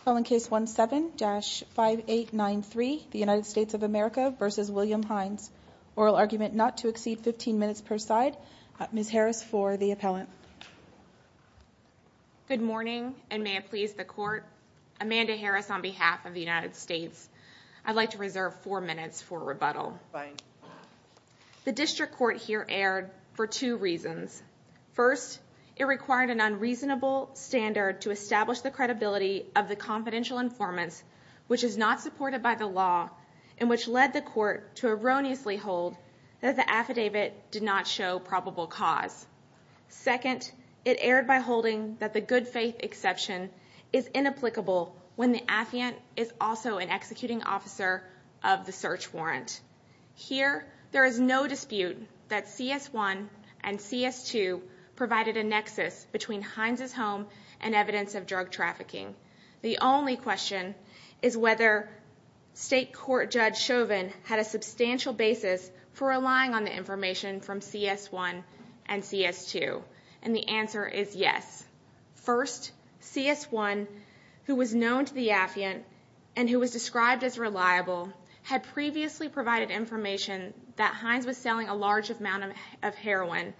Appellant case 17-5893, the United States of America v. William Hines. Oral argument not to exceed 15 minutes per side. Ms. Harris for the appellant. Good morning and may it please the court. Amanda Harris on behalf of the United States. I'd like to reserve 4 minutes for rebuttal. The district court here erred for two reasons. First, it required an unreasonable standard to establish the credibility of the confidential informants, which is not supported by the law, and which led the court to erroneously hold that the affidavit did not show probable cause. Second, it erred by holding that the good faith exception is inapplicable when the affidavit is also an executing officer of the search warrant. Here, there is no dispute that CS1 and CS2 provided a nexus between Hines' home and evidence of drug trafficking. The only question is whether State Court Judge Chauvin had a substantial basis for relying on the information from CS1 and CS2. And the answer is yes. First, CS1, who was known to the affiant and who was described as reliable, had previously provided information that Hines was selling a large amount of heroin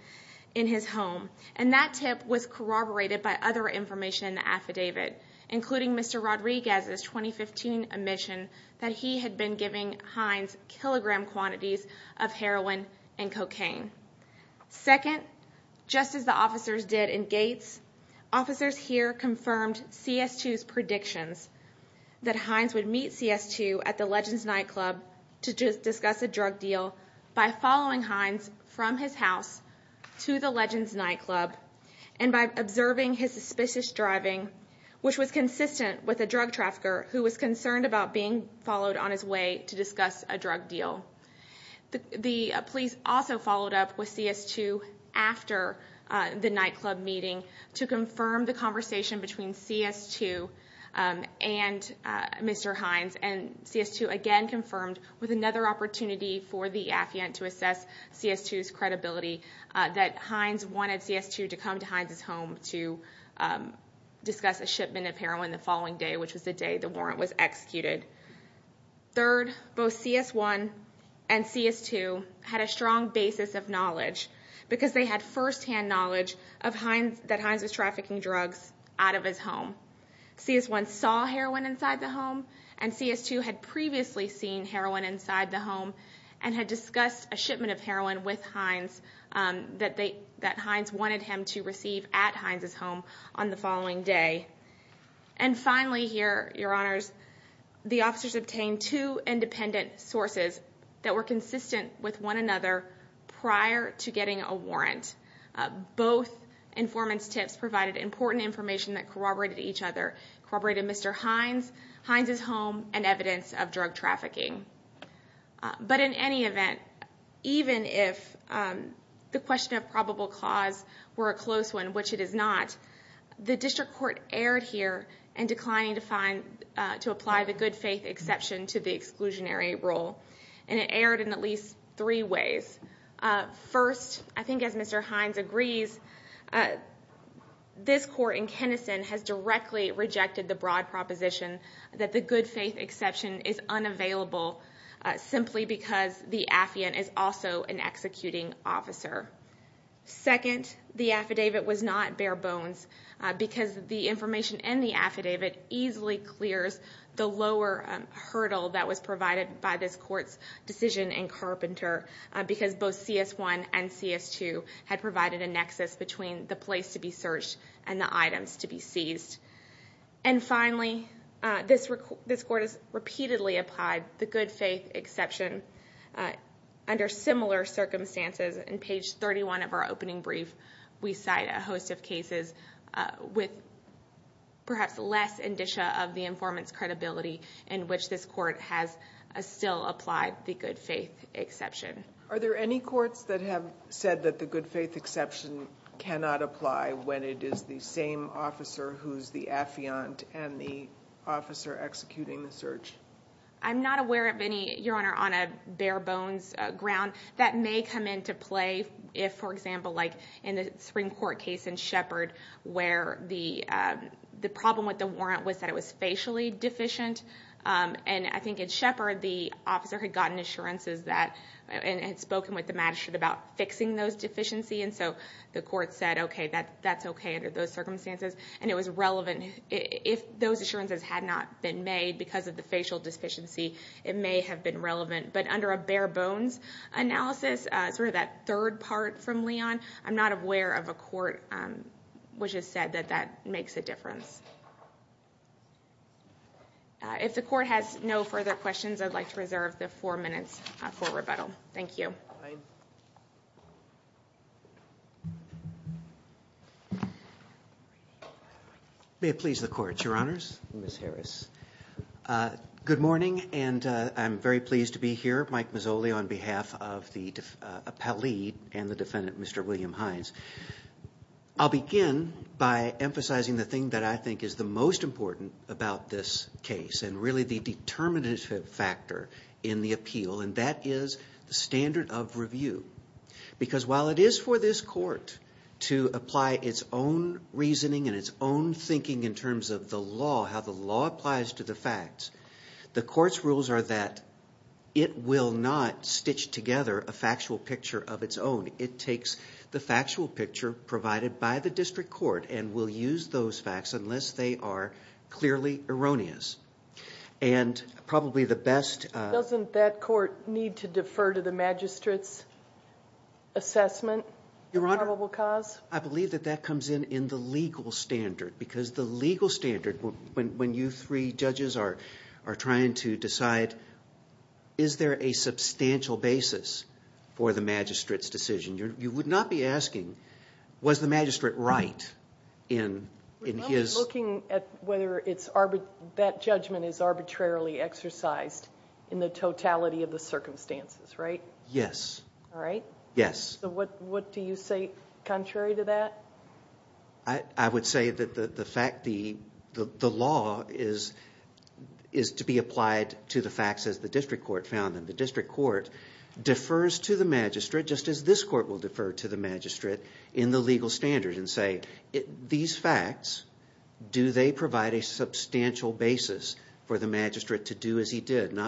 in his home, and that tip was corroborated by other information in the affidavit. Including Mr. Rodriguez's 2015 admission that he had been giving Hines kilogram quantities of heroin and cocaine. Second, just as the officers did in Gates, officers here confirmed CS2's predictions that Hines would meet CS2 at the Legends Nightclub to discuss a drug deal by following Hines from his house to the Legends Nightclub. And by observing his suspicious driving, which was consistent with a drug trafficker who was concerned about being followed on his way to discuss a drug deal. The police also followed up with CS2 after the nightclub meeting to confirm the conversation between CS2 and Mr. Hines. And CS2 again confirmed with another opportunity for the affiant to assess CS2's credibility that Hines wanted CS2 to come to Hines' home to discuss a shipment of heroin the following day, which was the day the warrant was executed. Third, both CS1 and CS2 had a strong basis of knowledge because they had firsthand knowledge that Hines was trafficking drugs out of his home. CS1 saw heroin inside the home, and CS2 had previously seen heroin inside the home and had discussed a shipment of heroin with Hines that Hines wanted him to receive at Hines' home on the following day. And finally here, your honors, the officers obtained two independent sources that were consistent with one another prior to getting a warrant. Both informants' tips provided important information that corroborated each other, corroborated Mr. Hines, Hines' home, and evidence of drug trafficking. But in any event, even if the question of probable cause were a close one, which it is not, the district court erred here in declining to apply the good faith exception to the exclusionary rule. And it erred in at least three ways. First, I think as Mr. Hines agrees, this court in Kennison has directly rejected the broad proposition that the good faith exception is unavailable simply because the affiant is also an executing officer. Second, the affidavit was not bare bones because the information in the affidavit easily clears the lower hurdle that was provided by this court's decision in Carpenter because both CS1 and CS2 had provided a nexus between the place to be searched and the items to be seized. And finally, this court has repeatedly applied the good faith exception under similar circumstances. In page 31 of our opening brief, we cite a host of cases with perhaps less indicia of the informant's credibility in which this court has still applied the good faith exception. Are there any courts that have said that the good faith exception cannot apply when it is the same officer who's the affiant and the officer executing the search? I'm not aware of any, Your Honor, on a bare bones ground. That may come into play if, for example, like in the Supreme Court case in Shepard where the problem with the warrant was that it was facially deficient. And I think in Shepard, the officer had gotten assurances that, and had spoken with the magistrate about fixing those deficiencies, and so the court said, okay, that's okay under those circumstances. And it was relevant if those assurances had not been made because of the facial deficiency, it may have been relevant. But under a bare bones analysis, sort of that third part from Leon, I'm not aware of a court which has said that that makes a difference. If the court has no further questions, I'd like to reserve the four minutes for rebuttal. Thank you. May it please the court, Your Honors, Ms. Harris. Good morning, and I'm very pleased to be here, Mike Mazzoli, on behalf of the appellee and the defendant, Mr. William Hines. I'll begin by emphasizing the thing that I think is the most important about this case, and really the determinative factor in the appeal, and that is the standard of review. Because while it is for this court to apply its own reasoning and its own thinking in terms of the law, how the law applies to the facts, the court's rules are that it will not stitch together a factual picture of its own. It takes the factual picture provided by the district court and will use those facts unless they are clearly erroneous. And probably the best... Doesn't that court need to defer to the magistrate's assessment? Your Honor, I believe that that comes in in the legal standard, because the legal standard, when you three judges are trying to decide, is there a substantial basis for the magistrate's decision? You would not be asking, was the magistrate right in his... We're only looking at whether that judgment is arbitrarily exercised in the totality of the circumstances, right? Yes. All right? Yes. What do you say contrary to that? I would say that the fact, the law is to be applied to the facts as the district court found them. The district court defers to the magistrate, just as this court will defer to the magistrate, in the legal standard and say, these facts, do they provide a substantial basis for the magistrate to do as he did?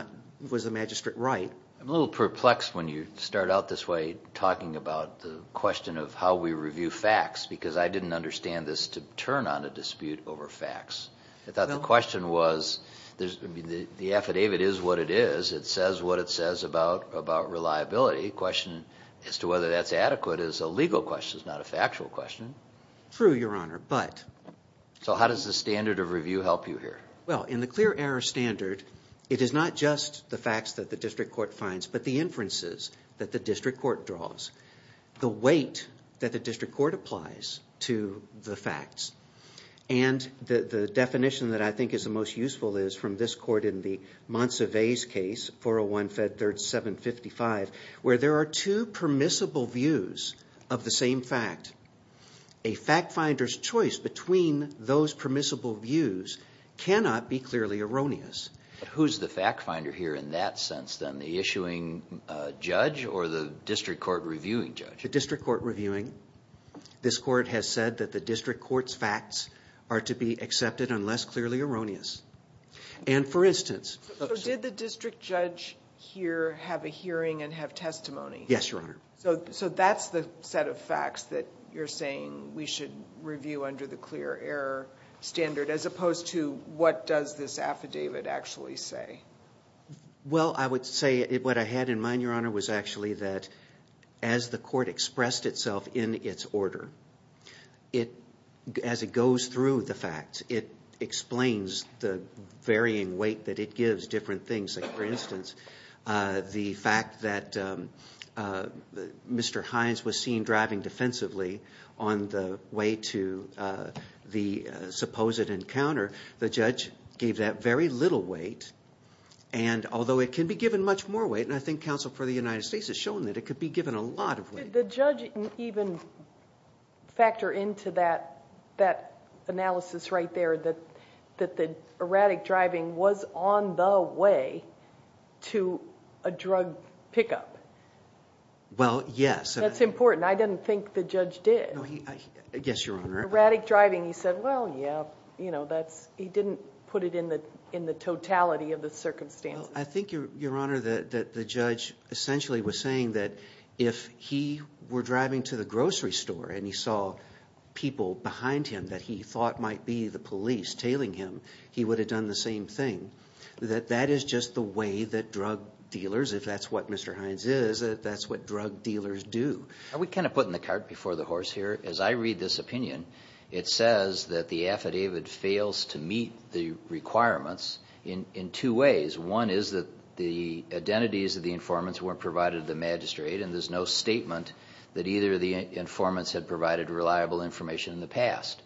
Was the magistrate right? I'm a little perplexed when you start out this way, talking about the question of how we review facts, because I didn't understand this to turn on a dispute over facts. I thought the question was, the affidavit is what it is. It says what it says about reliability. The question as to whether that's adequate is a legal question, not a factual question. True, Your Honor, but... So how does the standard of review help you here? Well, in the clear error standard, it is not just the facts that the district court finds, but the inferences that the district court draws, the weight that the district court applies to the facts. And the definition that I think is the most useful is from this court in the Monsivais case, 401-Fed 3755, where there are two permissible views of the same fact. A fact finder's choice between those permissible views cannot be clearly erroneous. Who's the fact finder here in that sense, then? The issuing judge or the district court reviewing judge? The district court reviewing. This court has said that the district court's facts are to be accepted unless clearly erroneous. And for instance... So did the district judge here have a hearing and have testimony? Yes, Your Honor. So that's the set of facts that you're saying we should review under the clear error standard, as opposed to what does this affidavit actually say? Well, I would say what I had in mind, Your Honor, was actually that as the court expressed itself in its order, as it goes through the facts, it explains the varying weight that it gives different things. For instance, the fact that Mr. Hines was seen driving defensively on the way to the supposed encounter, the judge gave that very little weight. And although it can be given much more weight, and I think counsel for the United States has shown that it could be given a lot of weight. Did the judge even factor into that analysis right there that the erratic driving was on the way to a drug pickup? Well, yes. That's important. I didn't think the judge did. Yes, Your Honor. Erratic driving, he said, well, yeah. He didn't put it in the totality of the circumstances. Well, I think, Your Honor, that the judge essentially was saying that if he were driving to the grocery store and he saw people behind him that he thought might be the police tailing him, he would have done the same thing. That that is just the way that drug dealers, if that's what Mr. Hines is, that's what drug dealers do. Are we kind of putting the cart before the horse here? As I read this opinion, it says that the affidavit fails to meet the requirements in two ways. One is that the identities of the informants weren't provided to the magistrate, and there's no statement that either of the informants had provided reliable information in the past.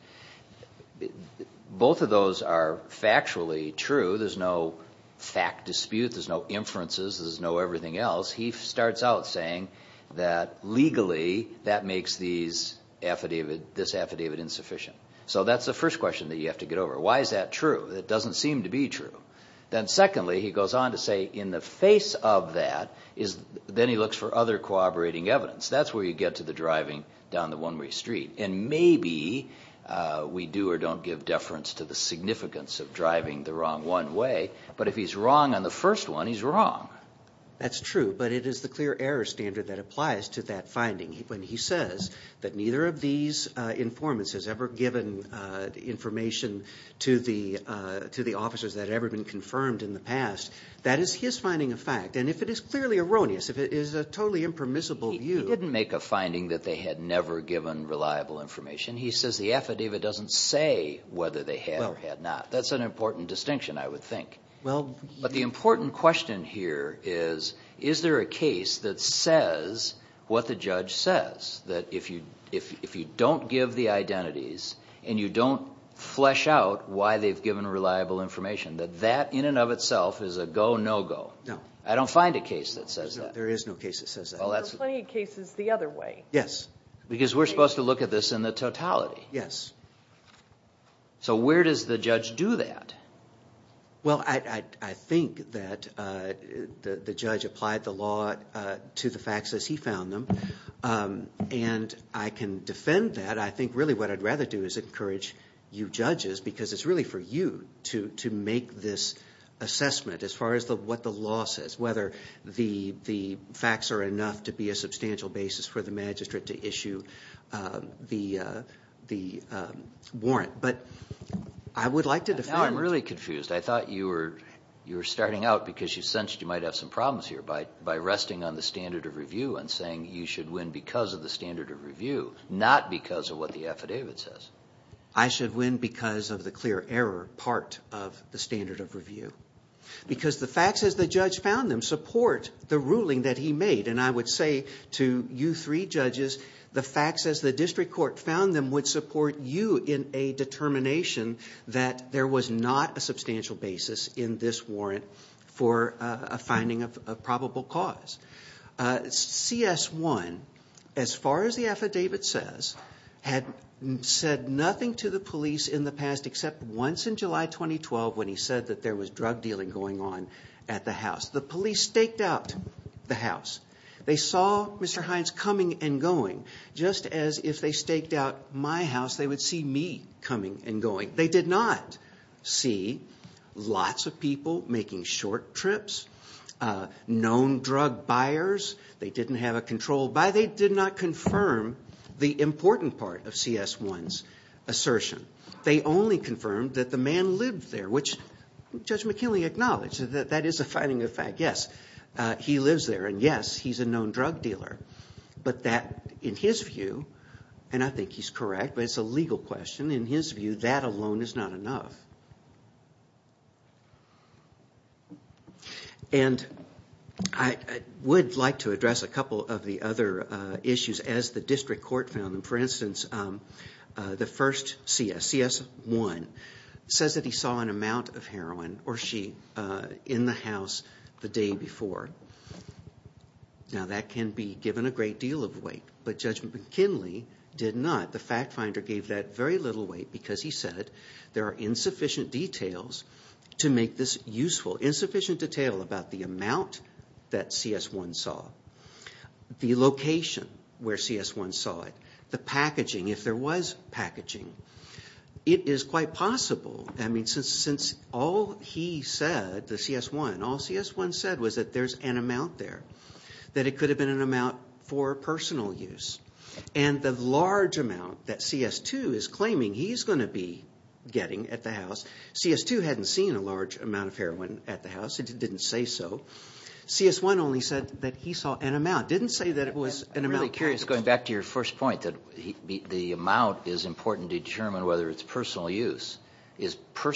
Both of those are factually true. There's no fact dispute. There's no inferences. There's no everything else. He starts out saying that legally that makes this affidavit insufficient. So that's the first question that you have to get over. Why is that true? It doesn't seem to be true. Then secondly, he goes on to say in the face of that, then he looks for other corroborating evidence. That's where you get to the driving down the one-way street. And maybe we do or don't give deference to the significance of driving the wrong one way, but if he's wrong on the first one, he's wrong. That's true, but it is the clear error standard that applies to that finding. When he says that neither of these informants has ever given information to the officers that have ever been confirmed in the past, that is his finding of fact. And if it is clearly erroneous, if it is a totally impermissible view. He didn't make a finding that they had never given reliable information. He says the affidavit doesn't say whether they had or had not. That's an important distinction, I would think. But the important question here is, is there a case that says what the judge says? That if you don't give the identities and you don't flesh out why they've given reliable information, that that in and of itself is a go-no-go. No. I don't find a case that says that. There is no case that says that. There are plenty of cases the other way. Yes. Because we're supposed to look at this in the totality. Yes. So where does the judge do that? Well, I think that the judge applied the law to the facts as he found them. And I can defend that. I think really what I'd rather do is encourage you judges, because it's really for you to make this assessment as far as what the law says, whether the facts are enough to be a substantial basis for the magistrate to issue the warrant. Now I'm really confused. I thought you were starting out because you sensed you might have some problems here by resting on the standard of review and saying you should win because of the standard of review, not because of what the affidavit says. I should win because of the clear error part of the standard of review. Because the facts as the judge found them support the ruling that he made. And I would say to you three judges, the facts as the district court found them would support you in a determination that there was not a substantial basis in this warrant for a finding of probable cause. CS1, as far as the affidavit says, had said nothing to the police in the past except once in July 2012 when he said that there was drug dealing going on at the house. The police staked out the house. They saw Mr. Hines coming and going. Just as if they staked out my house, they would see me coming and going. They did not see lots of people making short trips, known drug buyers. They didn't have a control. They did not confirm the important part of CS1's assertion. They only confirmed that the man lived there, which Judge McKinley acknowledged that that is a finding of fact. Yes, he lives there, and yes, he's a known drug dealer. But that, in his view, and I think he's correct, but it's a legal question, in his view, that alone is not enough. And I would like to address a couple of the other issues as the district court found them. For instance, the first CS, CS1, says that he saw an amount of heroin, or she, in the house the day before. Now, that can be given a great deal of weight, but Judge McKinley did not. The fact finder gave that very little weight because he said there are insufficient details to make this useful, insufficient detail about the amount that CS1 saw, the location where CS1 saw it, the packaging, if there was packaging. It is quite possible, I mean, since all he said, the CS1, all CS1 said was that there's an amount there, that it could have been an amount for personal use. And the large amount that CS2 is claiming he's going to be getting at the house, CS2 hadn't seen a large amount of heroin at the house. It didn't say so. CS1 only said that he saw an amount, didn't say that it was an amount. I'm really curious, going back to your first point, that the amount is important to determine whether it's personal use. Is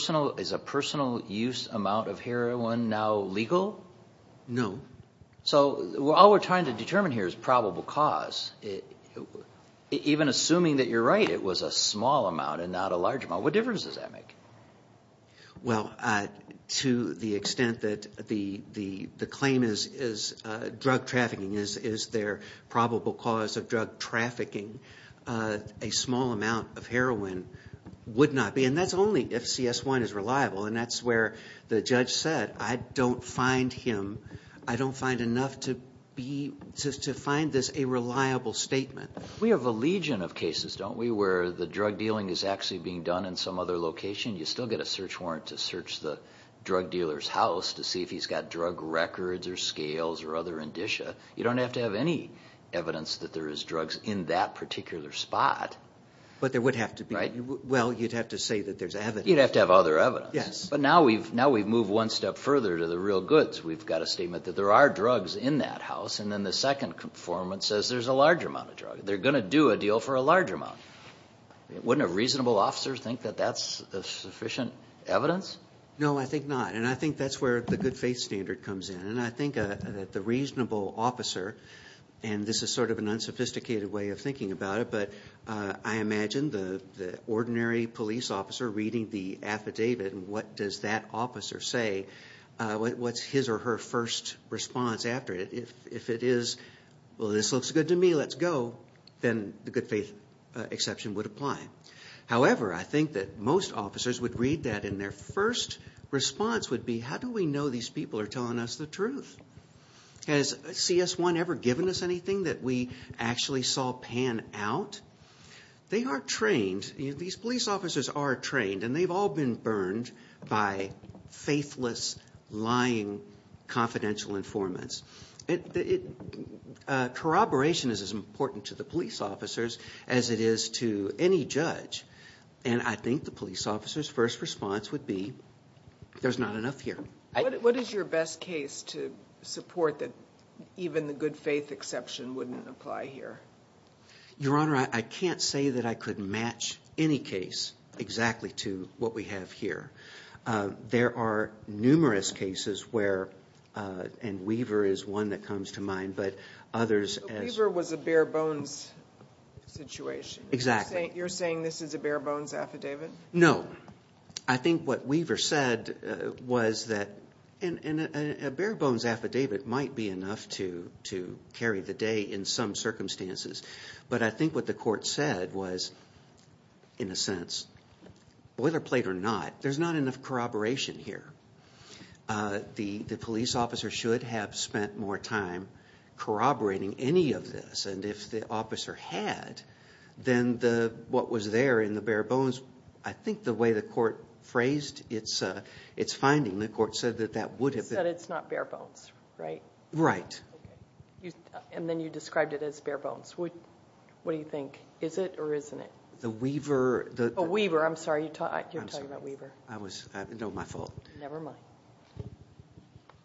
a personal use amount of heroin now legal? No. So all we're trying to determine here is probable cause. Even assuming that you're right, it was a small amount and not a large amount. What difference does that make? Well, to the extent that the claim is drug trafficking is their probable cause of drug trafficking, a small amount of heroin would not be. And that's only if CS1 is reliable. And that's where the judge said, I don't find enough to find this a reliable statement. We have a legion of cases, don't we, where the drug dealing is actually being done in some other location. You still get a search warrant to search the drug dealer's house to see if he's got drug records or scales or other indicia. You don't have to have any evidence that there is drugs in that particular spot. But there would have to be. Right? Well, you'd have to say that there's evidence. You'd have to have other evidence. Yes. But now we've moved one step further to the real goods. We've got a statement that there are drugs in that house. And then the second conformance says there's a large amount of drugs. They're going to do a deal for a large amount. Wouldn't a reasonable officer think that that's sufficient evidence? No, I think not. And I think that's where the good faith standard comes in. And I think that the reasonable officer, and this is sort of an unsophisticated way of thinking about it, but I imagine the ordinary police officer reading the affidavit and what does that officer say, what's his or her first response after it? If it is, well, this looks good to me, let's go, then the good faith exception would apply. However, I think that most officers would read that and their first response would be, how do we know these people are telling us the truth? Has CS1 ever given us anything that we actually saw pan out? They are trained. These police officers are trained, and they've all been burned by faithless, lying, confidential informants. Corroboration is as important to the police officers as it is to any judge. And I think the police officer's first response would be, there's not enough here. What is your best case to support that even the good faith exception wouldn't apply here? Your Honor, I can't say that I could match any case exactly to what we have here. There are numerous cases where, and Weaver is one that comes to mind, but others as ‑‑ Weaver was a bare bones situation. Exactly. You're saying this is a bare bones affidavit? No. I think what Weaver said was that a bare bones affidavit might be enough to carry the day in some circumstances. But I think what the court said was, in a sense, boilerplate or not, there's not enough corroboration here. The police officer should have spent more time corroborating any of this. And if the officer had, then what was there in the bare bones, I think the way the court phrased its finding, the court said that that would have been ‑‑ It said it's not bare bones, right? Right. And then you described it as bare bones. What do you think? Is it or isn't it? The Weaver ‑‑ Oh, Weaver. I'm sorry. You're talking about Weaver. No, my fault. Never mind.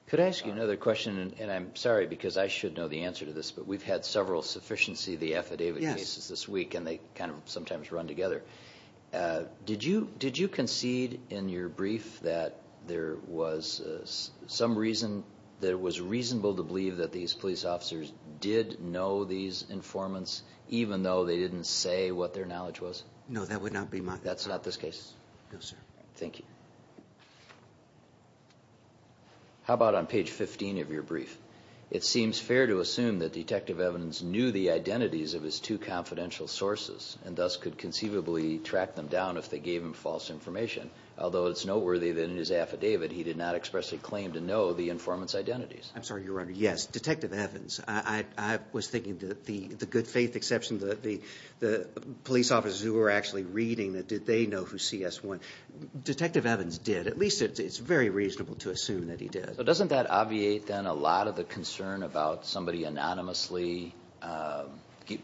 Could I ask you another question? And I'm sorry because I should know the answer to this, but we've had several sufficiency of the affidavit cases this week and they kind of sometimes run together. Did you concede in your brief that there was some reason that it was reasonable to believe that these police officers did know these informants even though they didn't say what their knowledge was? No, that would not be my ‑‑ That's not this case? No, sir. Thank you. How about on page 15 of your brief? It seems fair to assume that Detective Evans knew the identities of his two confidential sources and thus could conceivably track them down if they gave him false information, although it's noteworthy that in his affidavit he did not express a claim to know the informant's identities. I'm sorry, Your Honor. Yes, Detective Evans. I was thinking the good faith exception, the police officers who were actually reading, that did they know who CS1? Detective Evans did. At least it's very reasonable to assume that he did. Doesn't that obviate then a lot of the concern about somebody anonymously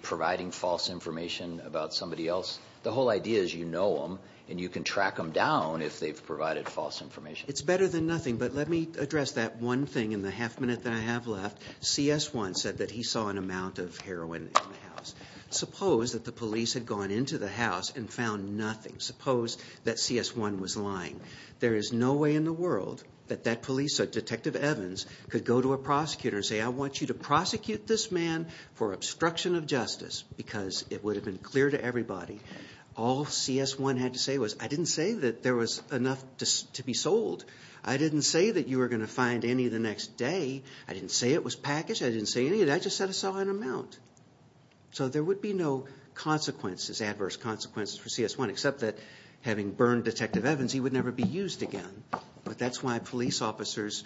providing false information about somebody else? The whole idea is you know them and you can track them down if they've provided false information. It's better than nothing, but let me address that one thing in the half minute that I have left. CS1 said that he saw an amount of heroin in the house. Suppose that the police had gone into the house and found nothing. Suppose that CS1 was lying. There is no way in the world that that police or Detective Evans could go to a prosecutor and say I want you to prosecute this man for obstruction of justice because it would have been clear to everybody. All CS1 had to say was I didn't say that there was enough to be sold. I didn't say that you were going to find any the next day. I didn't say it was packaged. I didn't say any of that. I just said I saw an amount. So there would be no consequences, adverse consequences for CS1 except that having burned Detective Evans, he would never be used again, but that's why police officers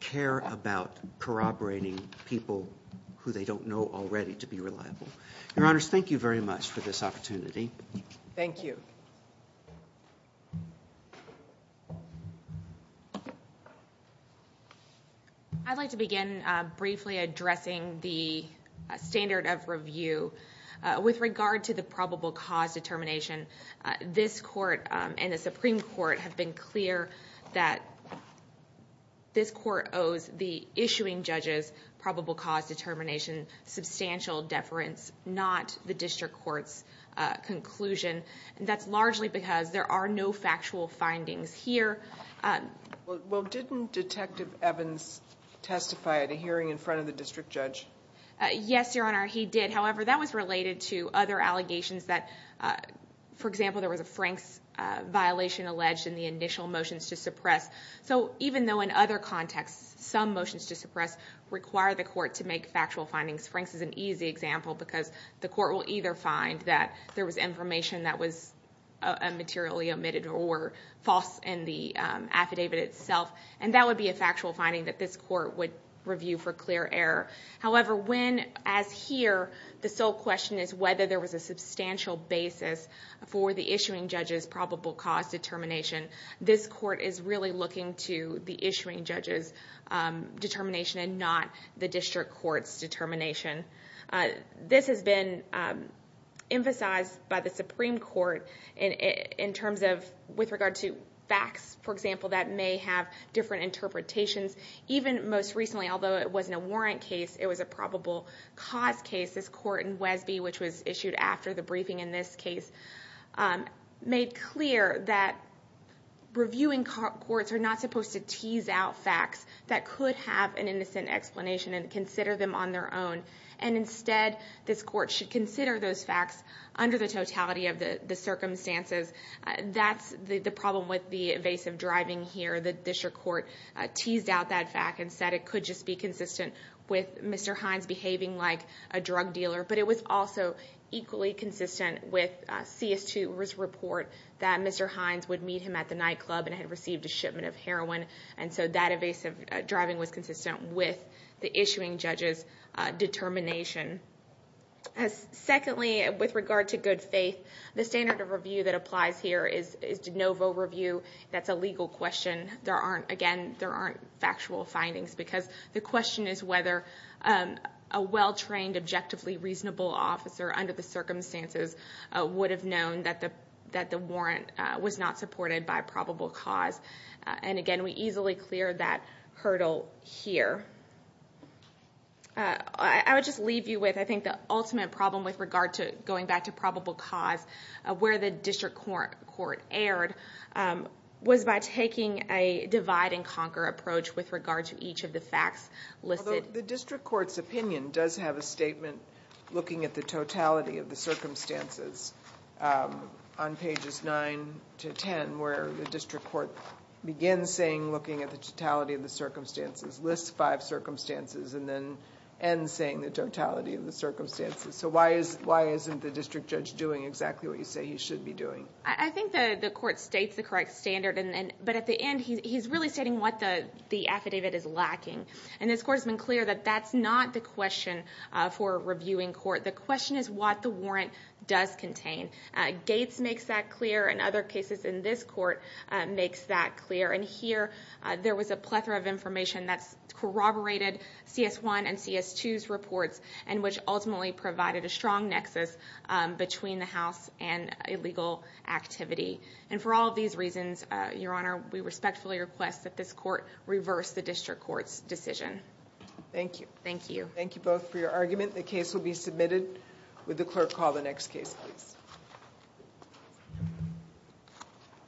care about corroborating people who they don't know already to be reliable. Your Honors, thank you very much for this opportunity. Thank you. I'd like to begin briefly addressing the standard of review with regard to the probable cause determination. This court and the Supreme Court have been clear that this court owes the issuing judges probable cause determination substantial deference, not the district court's conclusion. That's largely because there are no factual findings here. Well, didn't Detective Evans testify at a hearing in front of the district judge? Yes, Your Honor, he did. However, that was related to other allegations that, for example, there was a Franks violation alleged in the initial motions to suppress. So even though in other contexts some motions to suppress require the court to make factual findings, Franks is an easy example because the court will either find that there was information that was materially omitted or false in the affidavit itself, and that would be a factual finding that this court would review for clear error. However, when, as here, the sole question is whether there was a substantial basis for the issuing judge's probable cause determination, this court is really looking to the issuing judge's determination and not the district court's determination. This has been emphasized by the Supreme Court in terms of with regard to facts, for example, that may have different interpretations. Even most recently, although it wasn't a warrant case, it was a probable cause case. This court in Wesby, which was issued after the briefing in this case, made clear that reviewing courts are not supposed to tease out facts that could have an innocent explanation and consider them on their own, and instead this court should consider those facts under the totality of the circumstances. That's the problem with the evasive driving here. The district court teased out that fact and said it could just be consistent with Mr. Hines behaving like a drug dealer, but it was also equally consistent with CS2's report that Mr. Hines would meet him at the nightclub and had received a shipment of heroin, and so that evasive driving was consistent with the issuing judge's determination. Secondly, with regard to good faith, the standard of review that applies here is de novo review. That's a legal question. Again, there aren't factual findings because the question is whether a well-trained, objectively reasonable officer under the circumstances would have known that the warrant was not supported by probable cause. Again, we easily cleared that hurdle here. I would just leave you with, I think, the ultimate problem with regard to going back to probable cause, where the district court erred, was by taking a divide-and-conquer approach with regard to each of the facts listed. Although the district court's opinion does have a statement looking at the totality of the circumstances on pages 9 to 10, where the district court begins saying looking at the totality of the circumstances, lists five circumstances, and then ends saying the totality of the circumstances. So why isn't the district judge doing exactly what you say he should be doing? I think the court states the correct standard, but at the end he's really stating what the affidavit is lacking. And this court has been clear that that's not the question for a reviewing court. The question is what the warrant does contain. Gates makes that clear, and other cases in this court makes that clear. And here, there was a plethora of information that corroborated CS1 and CS2's reports, and which ultimately provided a strong nexus between the House and illegal activity. And for all of these reasons, Your Honor, we respectfully request that this court reverse the district court's decision. Thank you. Thank you. Thank you both for your argument. The case will be submitted. Would the clerk call the next case, please?